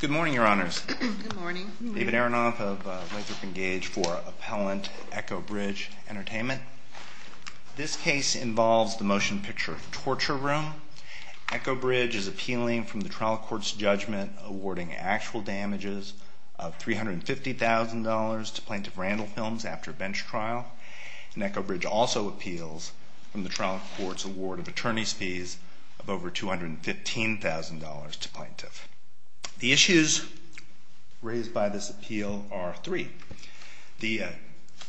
Good morning, your honors. Good morning. David Aronoff of Lathrop and Gage for Appellant Echo Bridge Entertainment. This case involves the Motion Picture Torture Room. Echo Bridge is appealing from the trial court's judgment awarding actual damages of $350,000 to Plaintiff Randall Films after bench trial. And Echo Bridge also appeals from the trial court's award of attorney's fees of over $215,000 to Plaintiff. The issues raised by this appeal are three.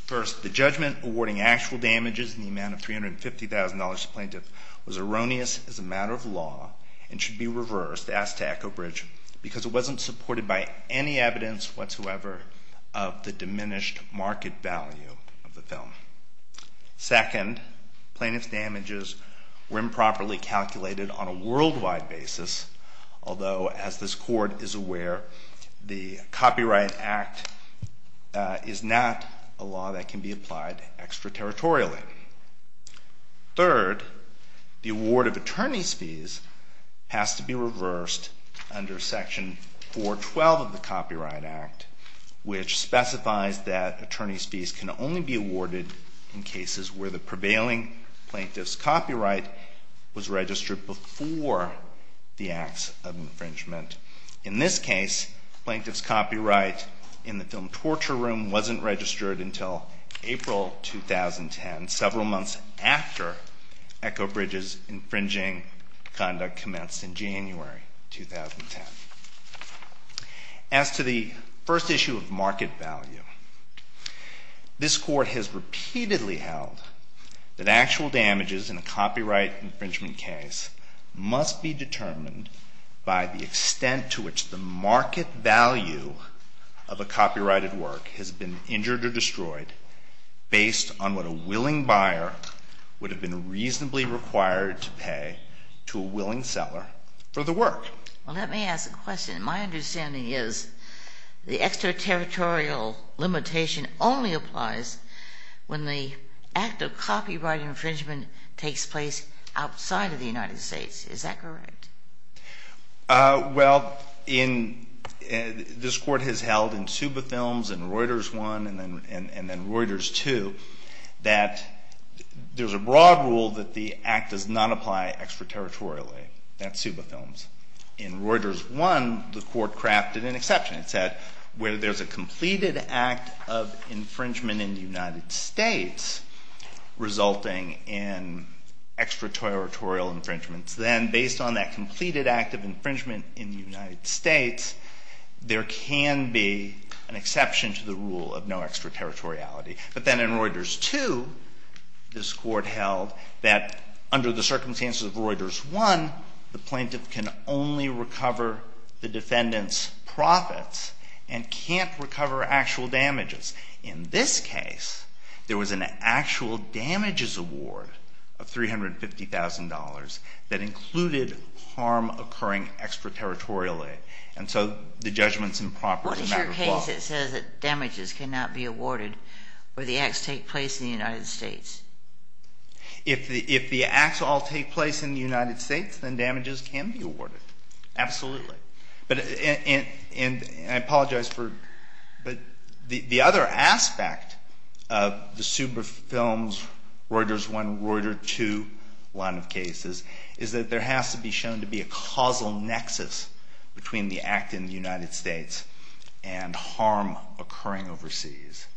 First, the judgment awarding actual damages in the amount of $350,000 to Plaintiff was erroneous as a matter of law and should be reversed, asked to Echo Bridge, because it wasn't supported by any evidence whatsoever of the diminished market value of the film. Second, Plaintiff's damages were improperly calculated on a worldwide basis, although as this court is aware, the Copyright Act is not a law that can be applied extraterritorially. Third, the award of attorney's fees has to be reversed under Section 412 of the Copyright Act, which specifies that attorney's fees can only be awarded in cases where the prevailing plaintiff's copyright was registered before the acts of infringement. In this case, plaintiff's copyright in the film Torture Room wasn't registered until April 2010, several months after Echo Bridge's infringing conduct commenced in January 2010. As to the first issue of market value, this court has repeatedly held that actual damages in a copyright infringement case must be determined by the extent to which the market value of a copyrighted work has been injured or destroyed based on what a willing buyer would have been reasonably required to pay to a willing seller for the work. Well, let me ask a question. My understanding is the extraterritorial limitation only applies when the act of copyright infringement takes place outside of the United States. Is that correct? Well, this court has held in Suba Films and Reuters 1 and then Reuters 2 that there's a broad rule that the act does not apply extraterritorially. That's Suba Films. In Reuters 1, the court crafted an exception. It said where there's a completed act of infringement in the United States resulting in extraterritorial infringements, then based on that completed act of infringement in the United States, there can be an exception to the rule of no extraterritoriality. But then in Reuters 2, this court held that under the circumstances of Reuters 1, the plaintiff can only recover the defendant's profits and can't recover actual damages. In this case, there was an actual damages award of $350,000 that included harm occurring extraterritorially. And so the judgment's improper as a matter of law. What is your case that says that damages cannot be awarded where the acts take place in the United States? If the acts all take place in the United States, then damages can be awarded. Absolutely. And I apologize for, but the other aspect of the Suba Films, Reuters 1, Reuters 2 line of cases is that there has to be shown to be a causal nexus between the act in the United States and harm occurring overseas.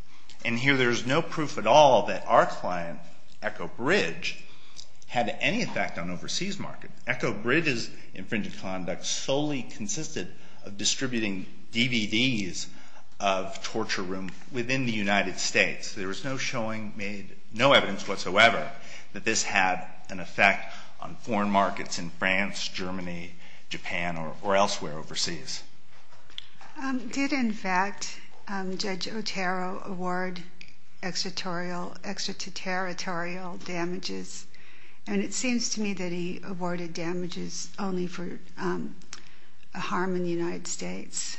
And here there's no proof at all that our client, Echo Bridge, had any effect on overseas market. Echo Bridge's infringed conduct solely consisted of distributing DVDs of Torture Room within the United States. There was no evidence whatsoever that this had an effect on foreign markets in France, Germany, Japan, or elsewhere overseas. Did, in fact, Judge Otero award extraterritorial damages? And it seems to me that he awarded damages only for harm in the United States.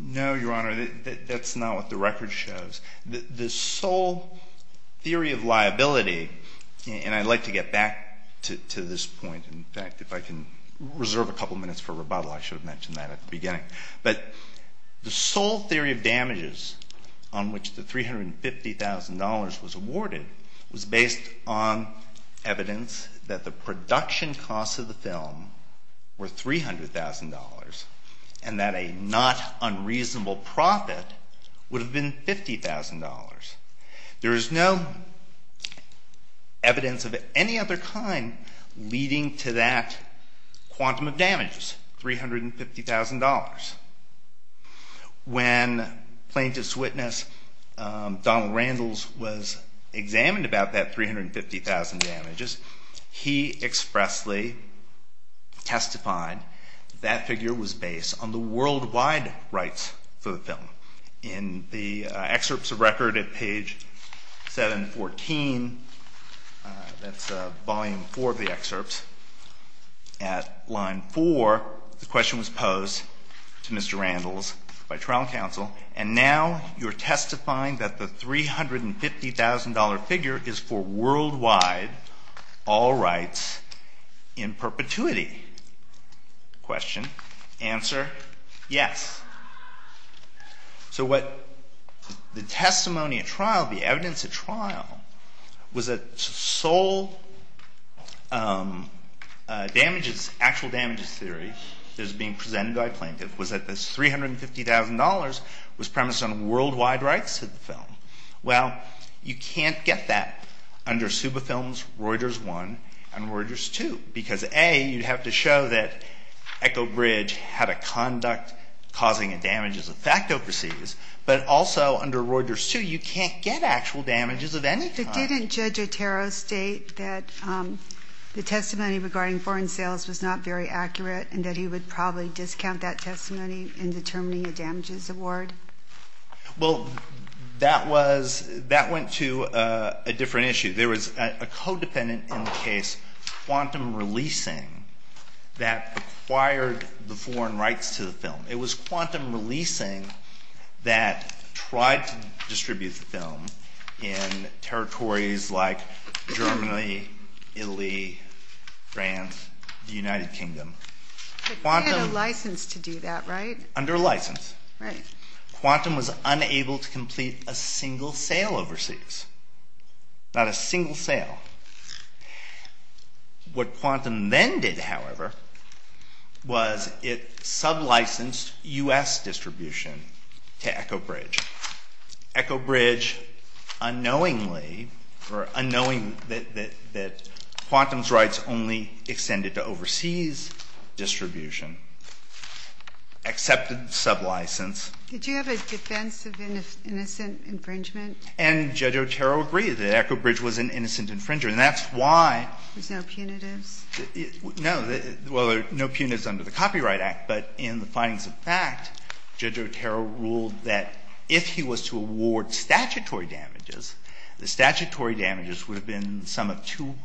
No, Your Honor, that's not what the record shows. The sole theory of liability, and I'd like to get back to this point. In fact, if I can reserve a couple minutes for rebuttal, I should have mentioned that at the beginning. But the sole theory of damages on which the $350,000 was awarded was based on evidence that the production There is no evidence of any other kind leading to that quantum of damages, $350,000. When plaintiff's witness, Donald Randles, was examined about that $350,000 damages, he expressly testified that figure was based on the worldwide rights for the film. In the excerpts of record at page 714, that's volume 4 of the excerpts, at line 4, the question was posed to Mr. Randles by trial counsel, and now you're testifying that the $350,000 figure is for worldwide all rights in perpetuity. Question? Answer? Yes. So what the testimony at trial, the evidence at trial, was that damages, actual damages theory that was being presented by plaintiff was that this $350,000 was premised on worldwide rights to the film. Well, you can't get that under Suba Films, Reuters 1, and Reuters 2, because A, you'd have to show that Echo Bridge had a conduct causing a damages effect overseas, but also under Reuters 2, you can't get actual damages of any kind. But didn't Judge Otero state that the testimony regarding foreign sales was not very accurate, and that he would probably discount that testimony in determining a damages award? Well, that went to a different issue. There was a codependent in the case, Quantum Releasing, that acquired the foreign rights to the film. It was Quantum Releasing that tried to distribute the film in territories like Germany, Italy, France, the United Kingdom. But they had a license to do that, right? Under license. Quantum was unable to complete a single sale overseas. Not a single sale. What Quantum then did, however, was it distribution. Accepted the sublicense. Did you have a defense of innocent infringement? And Judge Otero agreed that Echo Bridge was an innocent infringer, and that's why. There's no punitives? No. Well, there are no punitives under the Copyright Act, but in the findings of fact, Judge Otero ruled that if he was to award statutory damages, the statutory damages would have been the sum of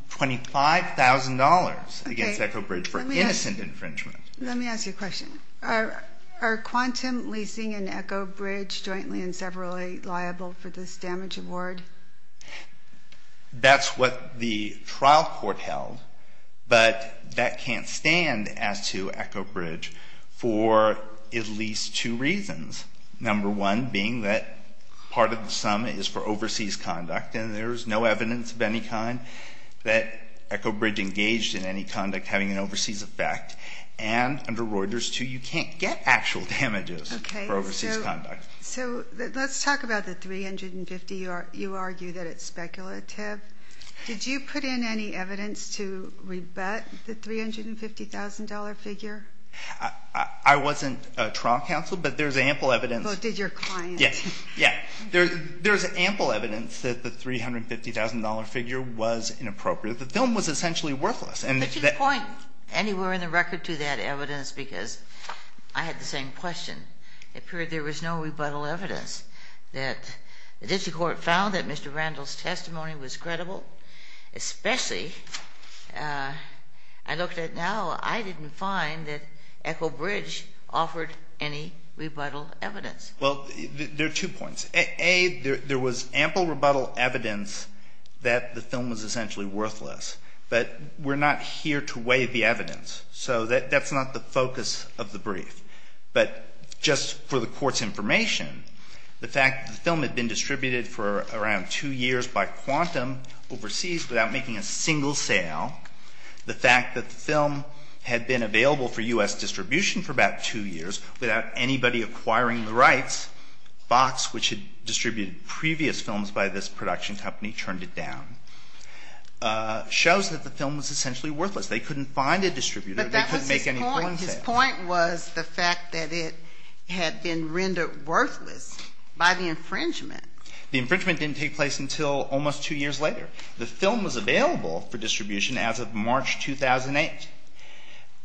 $25,000 against Echo Bridge for innocent infringement. Let me ask you a question. Are Quantum Leasing and Echo Bridge jointly and severally liable for this damage award? That's what the trial court held, but that can't stand as to Echo Bridge for at least two reasons. Number one being that part of the sum is for overseas conduct, and there's no evidence of any kind that Echo Bridge engaged in any conduct having an overseas effect. And under Reuters, too, you can't get actual damages for overseas conduct. Okay, so let's talk about the $350,000. You argue that it's speculative. Did you put in any evidence to rebut the $350,000 figure? I wasn't trial counsel, but there's ample evidence. But did your client? Yeah. There's ample evidence that the $350,000 figure was inappropriate. The film was essentially worthless. But you point anywhere in the record to that evidence because I had the same question. It appeared there was no rebuttal evidence that the district found that Mr. Randall's testimony was credible. Especially, I looked at it now, I didn't find that Echo Bridge offered any rebuttal evidence. Well, there are two points. A, there was ample rebuttal evidence that the film was essentially worthless. But we're not here to weigh the evidence. So that's not the focus of the brief. But just for the court's information, the fact that the film had been distributed for around two years by Quantum overseas without making a single sale, the fact that the film had been available for U.S. distribution for about two years without anybody acquiring the rights, Fox, which had distributed previous films by this production company, turned it down, shows that the film was essentially worthless. They couldn't find a distributor. But that was his point. His point was the fact that it had been rendered worthless by the infringement. The infringement didn't take place until almost two years later. The film was available for distribution as of March 2008.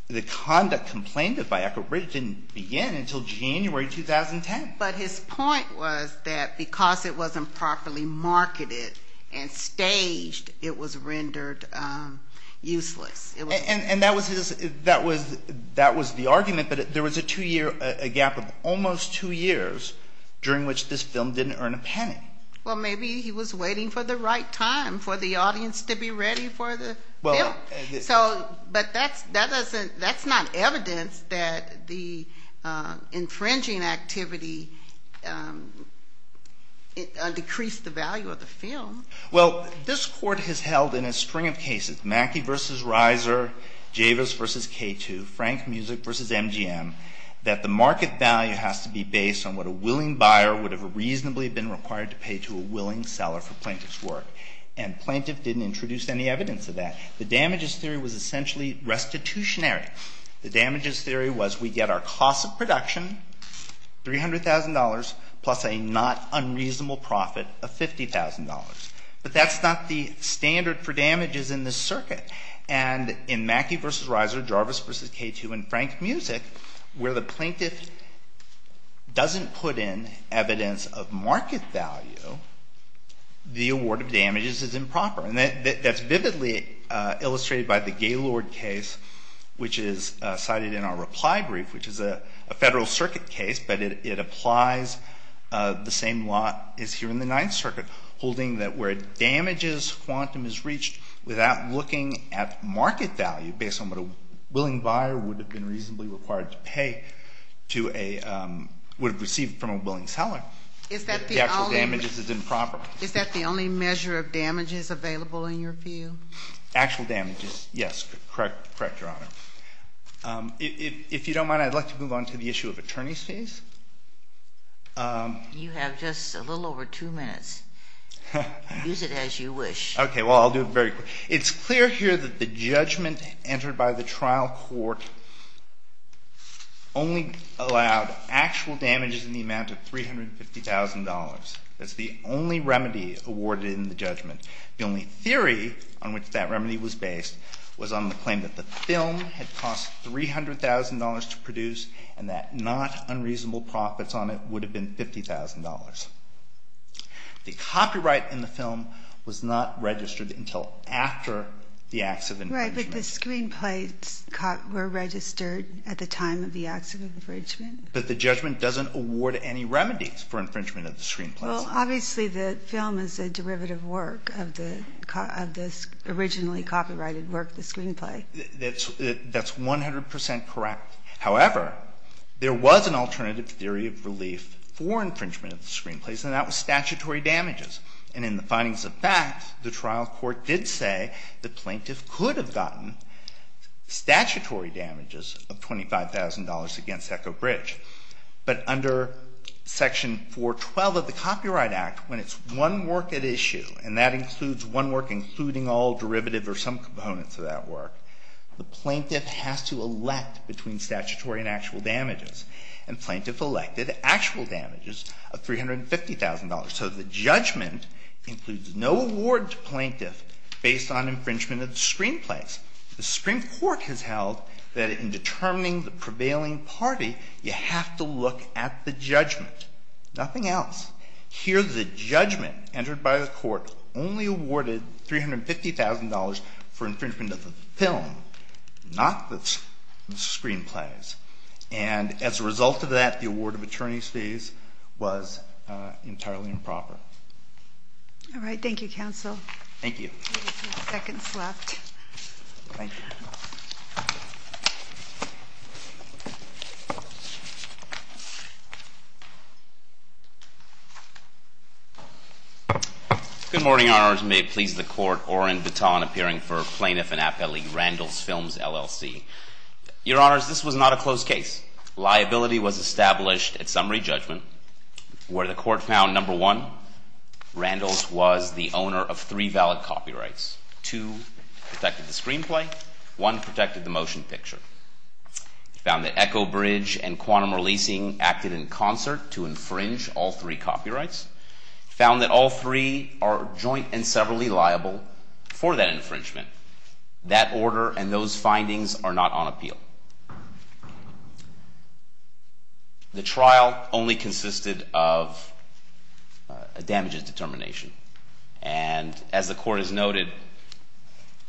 The conduct complained of by Echo Bridge didn't begin until January 2010. But his point was that because it wasn't properly marketed and staged, it was rendered useless. And that was the argument. But there was a gap of almost two years during which this film didn't earn a penny. Well, maybe he was waiting for the right time for the audience to be ready for the film. Well, this Court has held in a string of cases, Mackey v. Reiser, Javis v. K2, Frank Music v. MGM, that the market value has to be based on what a willing buyer would have reasonably been required to pay to a willing seller for plaintiff's work. And plaintiff didn't introduce any evidence of that. The damage is theory was essentially restitutionary. The damage is theory was we get our cost of production, $300,000, plus a not unreasonable profit of $50,000. But that's not the standard for damages in this circuit. And in Mackey v. Reiser, Javis v. K2, and Frank Music, where the plaintiff doesn't put in evidence of market value, the award of damages is improper. And that's vividly illustrated by the Gaylord case, which is cited in our reply brief, which is a Federal Circuit case. But it applies the same lot as here in the Ninth Circuit, holding that where damages quantum is reached without looking at market value based on what a willing buyer would have been reasonably required to pay to a, would have received from a willing seller, the actual damages is improper. Is that the only measure of damages available in your view? Actual damages, yes. Correct, Your Honor. If you don't mind, I'd like to move on to the issue of attorney's fees. You have just a little over two minutes. Use it as you wish. Okay. Well, I'll do it very quickly. It's clear here that the judgment entered by the trial court only allowed actual damages in the amount of $350,000. That's the only remedy awarded in the judgment. The only theory on which that remedy was based was on the claim that the film had cost $300,000 to produce and that not unreasonable profits on it would have been $50,000. The copyright in the film was not registered until after the acts of infringement. Right, but the screenplays were registered at the time of the acts of infringement. But the judgment doesn't award any remedies for infringement of the screenplays. Well, obviously the film is a derivative work of this originally copyrighted work, the screenplay. That's 100 percent correct. However, there was an alternative theory of relief for infringement of the screenplays, and that was statutory damages. And in the findings of fact, the trial court did say the plaintiff could have gotten statutory damages of $25,000 against Echo Bridge. But under Section 412 of the Copyright Act, when it's one work at issue, and that includes one work including all derivative or some components of that work, the plaintiff has to elect between statutory and actual damages. And plaintiff elected actual damages of $350,000. So the judgment includes no award to plaintiff based on infringement of the screenplays. The Supreme Court has held that in determining the prevailing party, you have to look at the judgment. Nothing else. Here the judgment entered by the court only awarded $350,000 for infringement of the film, not the screenplays. And as a result of that, the award of attorney's fees was entirely improper. All right, thank you, counsel. Thank you. We have a few seconds left. Good morning, Your Honors. May it please the Court, Orrin Baton appearing for Plaintiff and Appelee, Randalls Films, LLC. Your Honors, this was not a closed case. Liability was established at summary judgment where the court found, number one, Randalls was the owner of three valid copyrights. Two protected the screenplay. One protected the motion picture. It found that Echo Bridge and Quantum Releasing acted in concert to infringe all three copyrights. It found that all three are joint and severally liable for that infringement. That order and those findings are not on appeal. The trial only consisted of a damages determination. And as the court has noted,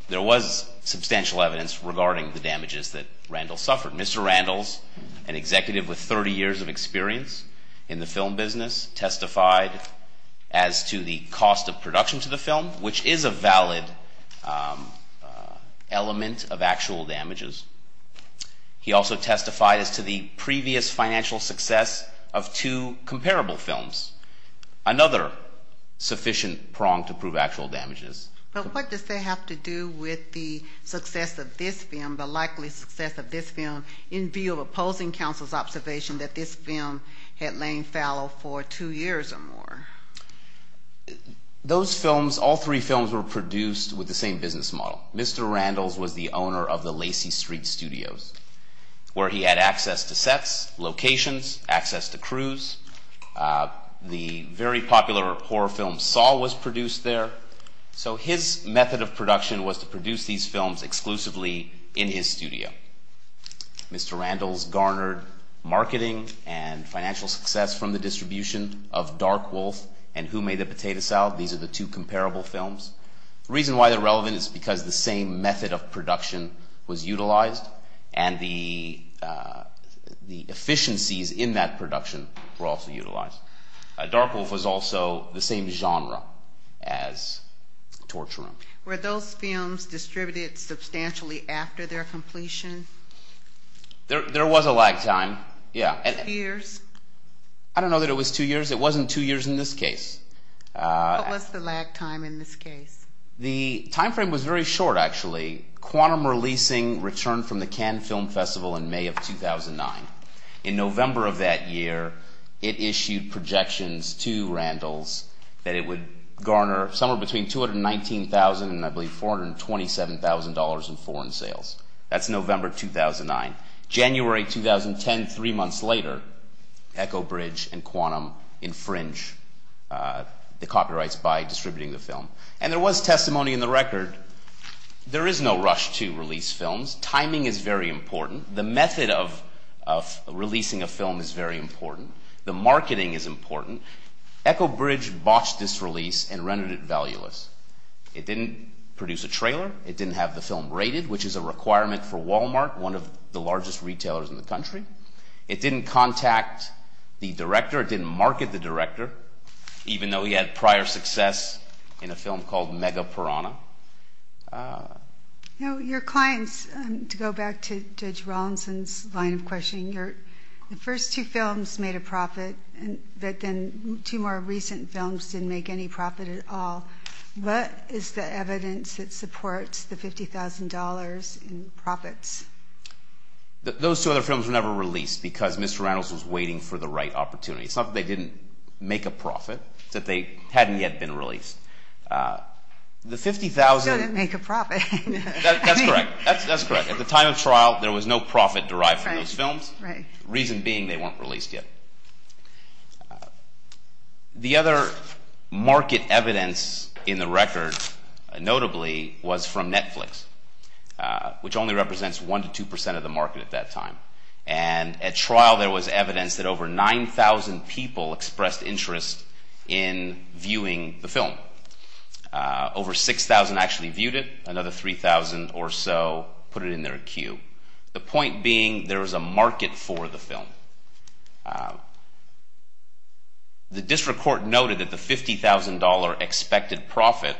there was substantial evidence regarding the damages that Randalls suffered. Mr. Randalls, an executive with 30 years of experience in the film business, testified as to the cost of production to the film, which is a valid element of actual damages. He also testified as to the previous financial success of two comparable films. Another sufficient prong to prove actual damages. But what does that have to do with the success of this film, the likely success of this film, in view of opposing counsel's observation that this film had lain fallow for two years or more? Those films, all three films, were produced with the same business model. Mr. Randalls was the owner of the Lacey Street Studios, where he had access to sets, locations, access to crews. The very popular horror film, Saw, was produced there. So his method of production was to produce these films exclusively in his studio. Mr. Randalls garnered marketing and financial success from the distribution of Dark Wolf and Who Made the Potato Salad? These are the two comparable films. The reason why they're relevant is because the same method of production was utilized, and the efficiencies in that production were also utilized. Dark Wolf was also the same genre as Torture Room. Were those films distributed substantially after their completion? There was a lag time, yeah. Two years? I don't know that it was two years. It wasn't two years in this case. What was the lag time in this case? The time frame was very short, actually. Quantum Releasing returned from the Cannes Film Festival in May of 2009. In November of that year, it issued projections to Randalls that it would garner somewhere between $219,000 and, I believe, $427,000 in foreign sales. That's November 2009. January 2010, three months later, Echo Bridge and Quantum infringe the copyrights by distributing the film. And there was testimony in the record. There is no rush to release films. Timing is very important. The method of releasing a film is very important. The marketing is important. Echo Bridge botched this release and rendered it valueless. It didn't produce a trailer. It didn't have the film rated, which is a requirement for Walmart, one of the largest retailers in the country. It didn't contact the director. It didn't market the director, even though he had prior success in a film called Mega Piranha. Your clients, to go back to Judge Rawlinson's line of questioning, the first two films made a profit, but then two more recent films didn't make any profit at all. What is the evidence that supports the $50,000 in profits? Those two other films were never released because Mr. Randalls was waiting for the right opportunity. It's not that they didn't make a profit. It's that they hadn't yet been released. The $50,000— It doesn't make a profit. That's correct. That's correct. At the time of trial, there was no profit derived from those films. The reason being, they weren't released yet. The other market evidence in the record, notably, was from Netflix, which only represents 1% to 2% of the market at that time. At trial, there was evidence that over 9,000 people expressed interest in viewing the film. Over 6,000 actually viewed it. Another 3,000 or so put it in their queue. The point being, there was a market for the film. The district court noted that the $50,000 expected profit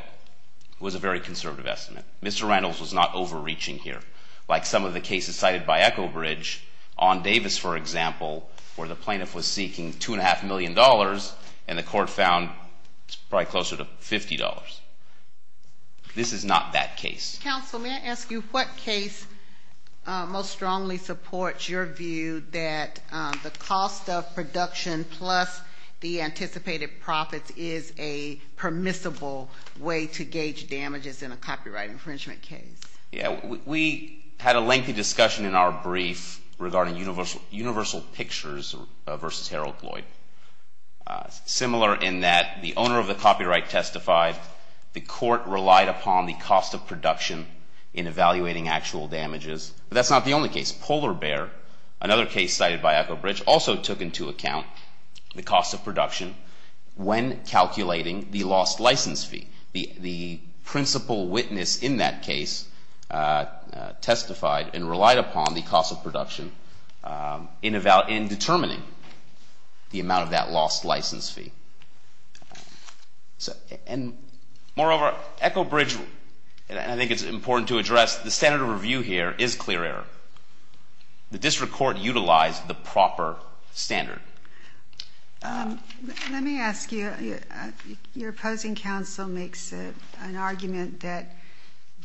was a very conservative estimate. Mr. Randalls was not overreaching here. Like some of the cases cited by Echo Bridge on Davis, for example, where the plaintiff was seeking $2.5 million, and the court found it's probably closer to $50. This is not that case. Counsel, may I ask you what case most strongly supports your view that the cost of production plus the anticipated profits is a permissible way to gauge damages in a copyright infringement case? We had a lengthy discussion in our brief regarding Universal Pictures v. Harold Lloyd. Similar in that the owner of the copyright testified, the court relied upon the cost of production in evaluating actual damages. That's not the only case. Polar Bear, another case cited by Echo Bridge, also took into account the cost of production when calculating the lost license fee. The principal witness in that case testified and relied upon the cost of production in determining the amount of that lost license fee. Moreover, Echo Bridge, and I think it's important to address, the standard of review here is clear error. The district court utilized the proper standard. Let me ask you, your opposing counsel makes an argument that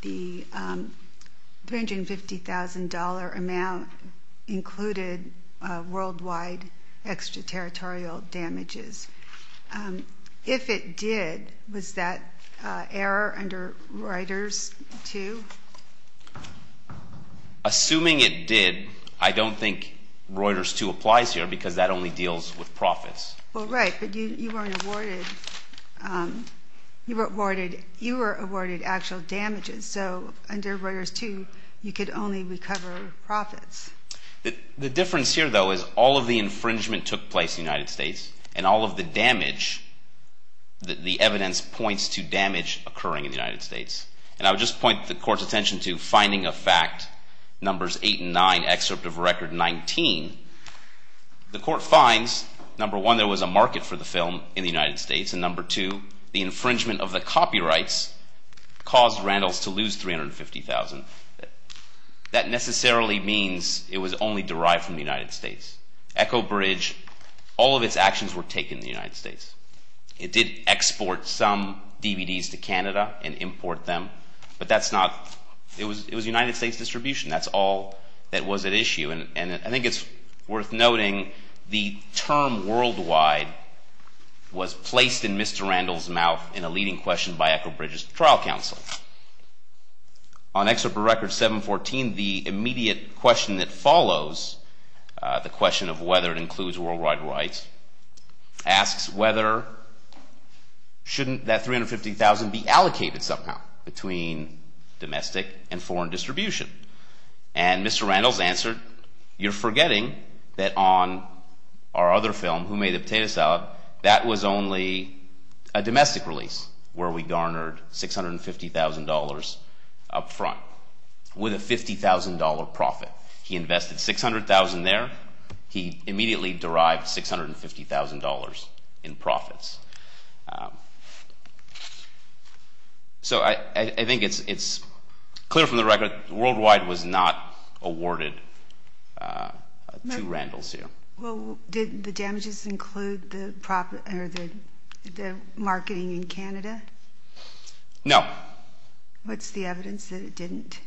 the $350,000 amount included worldwide extraterritorial damages. If it did, was that error under Reuters 2? Assuming it did, I don't think Reuters 2 applies here because that only deals with profits. Well, right, but you were awarded actual damages. So under Reuters 2, you could only recover profits. The difference here, though, is all of the infringement took place in the United States and all of the damage, the evidence points to damage occurring in the United States. And I would just point the court's attention to Finding of Fact, Numbers 8 and 9, excerpt of Record 19. The court finds, number one, there was a market for the film in the United States, and number two, the infringement of the copyrights caused Randalls to lose $350,000. That necessarily means it was only derived from the United States. Echo Bridge, all of its actions were taken in the United States. It did export some DVDs to Canada and import them, but that's not, it was United States distribution. That's all that was at issue. And I think it's worth noting the term worldwide was placed in Mr. Randalls' mouth in a leading question by Echo Bridge's trial counsel. On excerpt of Record 714, the immediate question that follows, the question of whether it includes worldwide rights, asks whether, shouldn't that $350,000 be allocated somehow between domestic and foreign distribution? And Mr. Randalls answered, you're forgetting that on our other film, Who Made the Potato Salad, that was only a domestic release where we garnered $650,000 up front with a $50,000 profit. He invested $600,000 there. He immediately derived $650,000 in profits. So I think it's clear from the record, worldwide was not awarded to Randalls here. Well, did the damages include the marketing in Canada? No. What's the evidence that it didn't?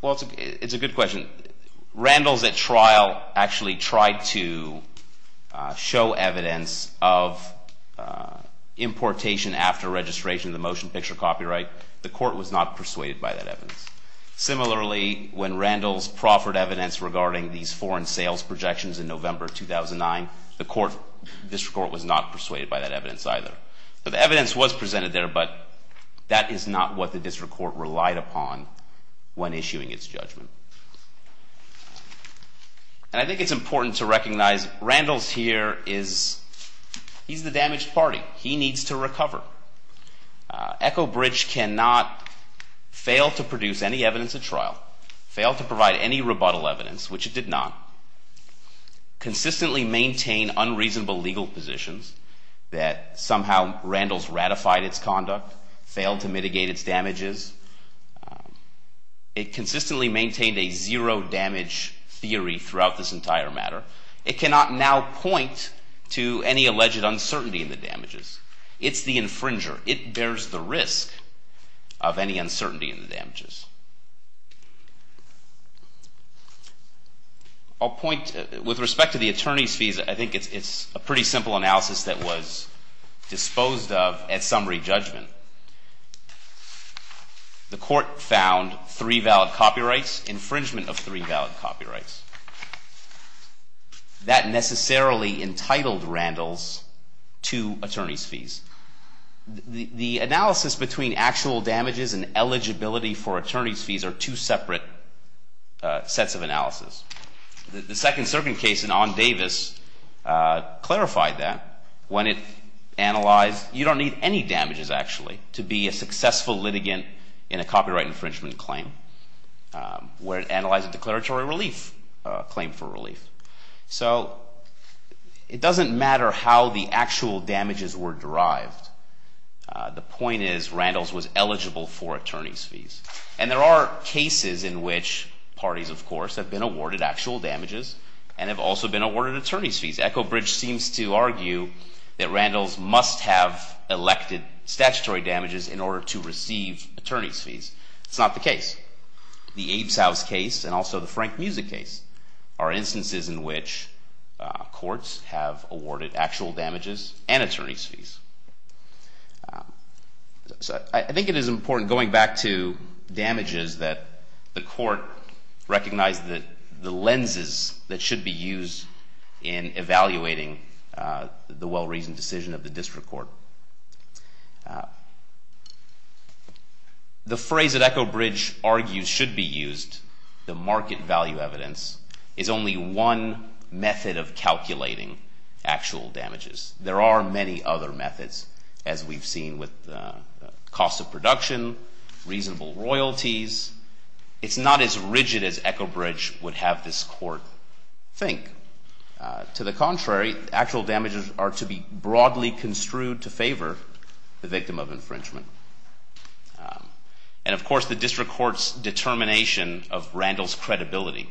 Well, it's a good question. Randalls at trial actually tried to show evidence of importation after registration of the motion picture copyright. The court was not persuaded by that evidence. Similarly, when Randalls proffered evidence regarding these foreign sales projections in November 2009, the district court was not persuaded by that evidence either. The evidence was presented there, but that is not what the district court relied upon when issuing its judgment. And I think it's important to recognize Randalls here is the damaged party. He needs to recover. Echo Bridge cannot fail to produce any evidence at trial, fail to provide any rebuttal evidence, which it did not, consistently maintain unreasonable legal positions that somehow Randalls ratified its conduct, failed to mitigate its damages. It consistently maintained a zero damage theory throughout this entire matter. It cannot now point to any alleged uncertainty in the damages. It's the infringer. It bears the risk of any uncertainty in the damages. With respect to the attorney's fees, I think it's a pretty simple analysis that was disposed of at summary judgment. The court found three valid copyrights, infringement of three valid copyrights. The analysis between actual damages and eligibility for attorney's fees are two separate sets of analysis. The second certain case in On Davis clarified that. When it analyzed, you don't need any damages, actually, to be a successful litigant in a copyright infringement claim where it analyzed a declaratory relief claim for relief. So it doesn't matter how the actual damages were derived. The point is Randalls was eligible for attorney's fees. And there are cases in which parties, of course, have been awarded actual damages and have also been awarded attorney's fees. Echo Bridge seems to argue that Randalls must have elected statutory damages in order to receive attorney's fees. It's not the case. The Abe's House case and also the Frank Musick case are instances in which courts have awarded actual damages and attorney's fees. So I think it is important, going back to damages, that the court recognize the lenses that should be used in evaluating the well-reasoned decision of the district court. The phrase that Echo Bridge argues should be used, the market value evidence, is only one method of calculating actual damages. There are many other methods, as we've seen with cost of production, reasonable royalties. It's not as rigid as Echo Bridge would have this court think. To the contrary, actual damages are to be broadly construed to favor the victim of infringement. And, of course, the district court's determination of Randalls' credibility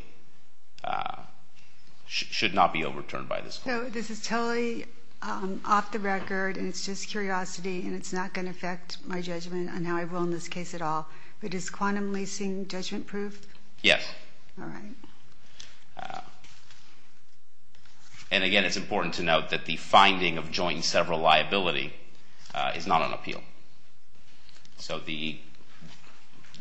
should not be overturned by this court. So this is totally off the record, and it's just curiosity, and it's not going to affect my judgment on how I will in this case at all. But is quantum leasing judgment-proof? Yes. All right. And, again, it's important to note that the finding of joint and several liability is not on appeal. So the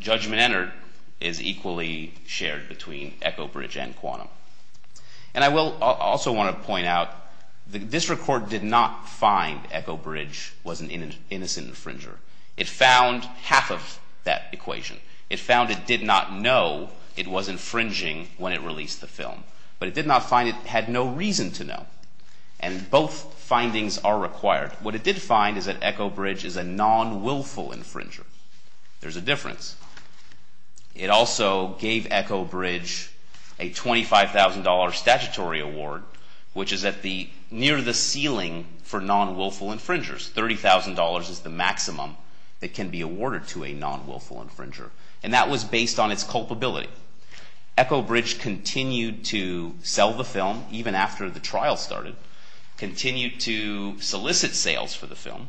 judgment entered is equally shared between Echo Bridge and quantum. And I will also want to point out, the district court did not find Echo Bridge was an innocent infringer. It found half of that equation. It found it did not know it was infringing when it released the film. But it did not find it had no reason to know. And both findings are required. What it did find is that Echo Bridge is a non-wilful infringer. There's a difference. It also gave Echo Bridge a $25,000 statutory award, which is near the ceiling for non-wilful infringers. $30,000 is the maximum that can be awarded to a non-wilful infringer. And that was based on its culpability. Echo Bridge continued to sell the film even after the trial started, continued to solicit sales for the film,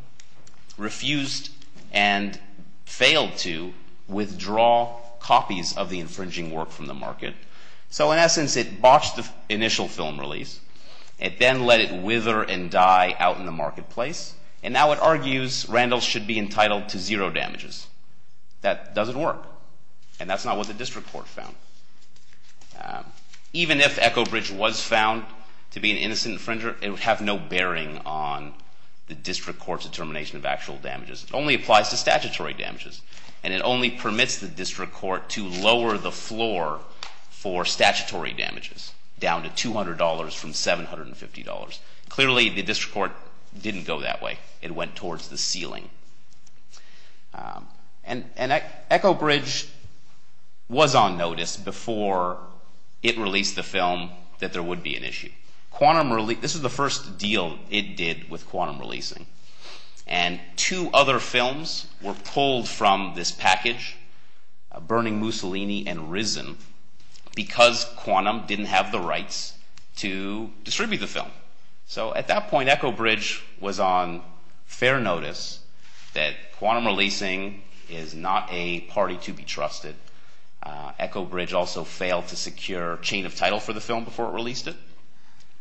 refused and failed to withdraw copies of the infringing work from the market. So, in essence, it botched the initial film release. It then let it wither and die out in the marketplace. And now it argues Randall should be entitled to zero damages. That doesn't work. And that's not what the district court found. Even if Echo Bridge was found to be an innocent infringer, it would have no bearing on the district court's determination of actual damages. It only applies to statutory damages. And it only permits the district court to lower the floor for statutory damages, down to $200 from $750. Clearly, the district court didn't go that way. It went towards the ceiling. And Echo Bridge was on notice before it released the film that there would be an issue. This was the first deal it did with Quantum Releasing. And two other films were pulled from this package, Burning Mussolini and Risen, because Quantum didn't have the rights to distribute the film. So, at that point, Echo Bridge was on fair notice that Quantum Releasing is not a party to be trusted. Echo Bridge also failed to secure a chain of title for the film before it released it,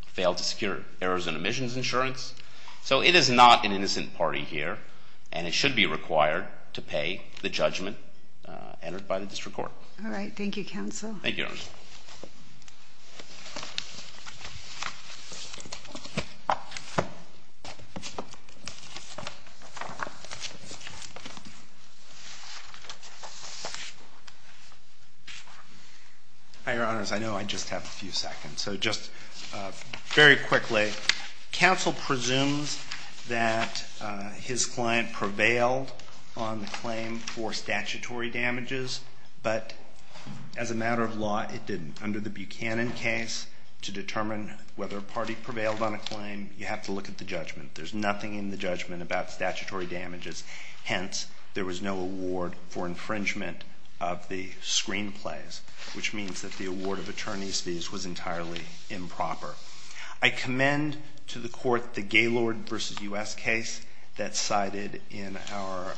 failed to secure errors and omissions insurance. So it is not an innocent party here. And it should be required to pay the judgment entered by the district court. All right. Thank you, Counsel. Thank you, Your Honor. Your Honors, I know I just have a few seconds. So just very quickly, Counsel presumes that his client prevailed on the claim for statutory damages, but as a matter of law, it didn't. Under the Buchanan case, to determine whether a party prevailed on a claim, you have to look at the judgment. There's nothing in the judgment about statutory damages. Hence, there was no award for infringement of the screenplays, which means that the award of attorney's fees was entirely improper. I commend to the court the Gaylord v. U.S. case that's cited in our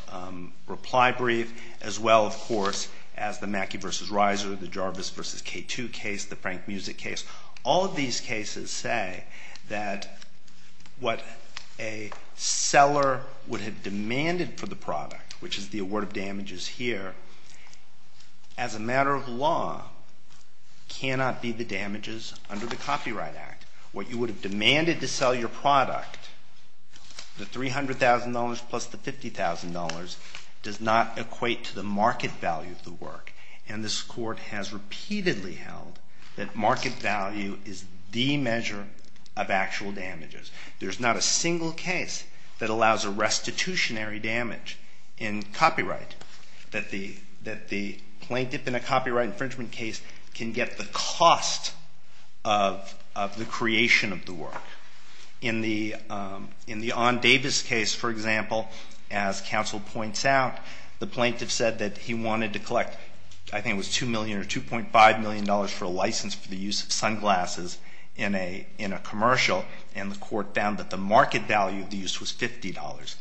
reply brief, as well, of course, as the Mackey v. Reiser, the Jarvis v. K2 case, the Frank Music case. All of these cases say that what a seller would have demanded for the product, which is the award of damages here, as a matter of law, cannot be the damages under the Copyright Act. What you would have demanded to sell your product, the $300,000 plus the $50,000, does not equate to the market value of the work. And this court has repeatedly held that market value is the measure of actual damages. There's not a single case that allows a restitutionary damage in copyright, that the plaintiff in a copyright infringement case can get the cost of the creation of the work. In the Ahn-Davis case, for example, as counsel points out, the plaintiff said that he wanted to collect, I think it was $2 million or $2.5 million for a license for the use of sunglasses in a commercial, and the court found that the market value of the use was $50.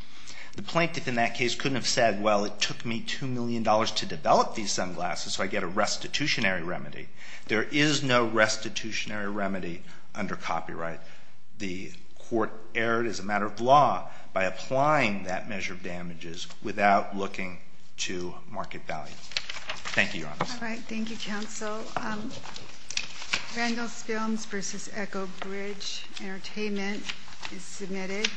The plaintiff in that case couldn't have said, well, it took me $2 million to develop these sunglasses, so I get a restitutionary remedy. There is no restitutionary remedy under copyright. The court erred as a matter of law by applying that measure of damages without looking to market value. Thank you, Your Honor. All right, thank you, counsel. Randall Spilms v. Echo Bridge Entertainment is submitted.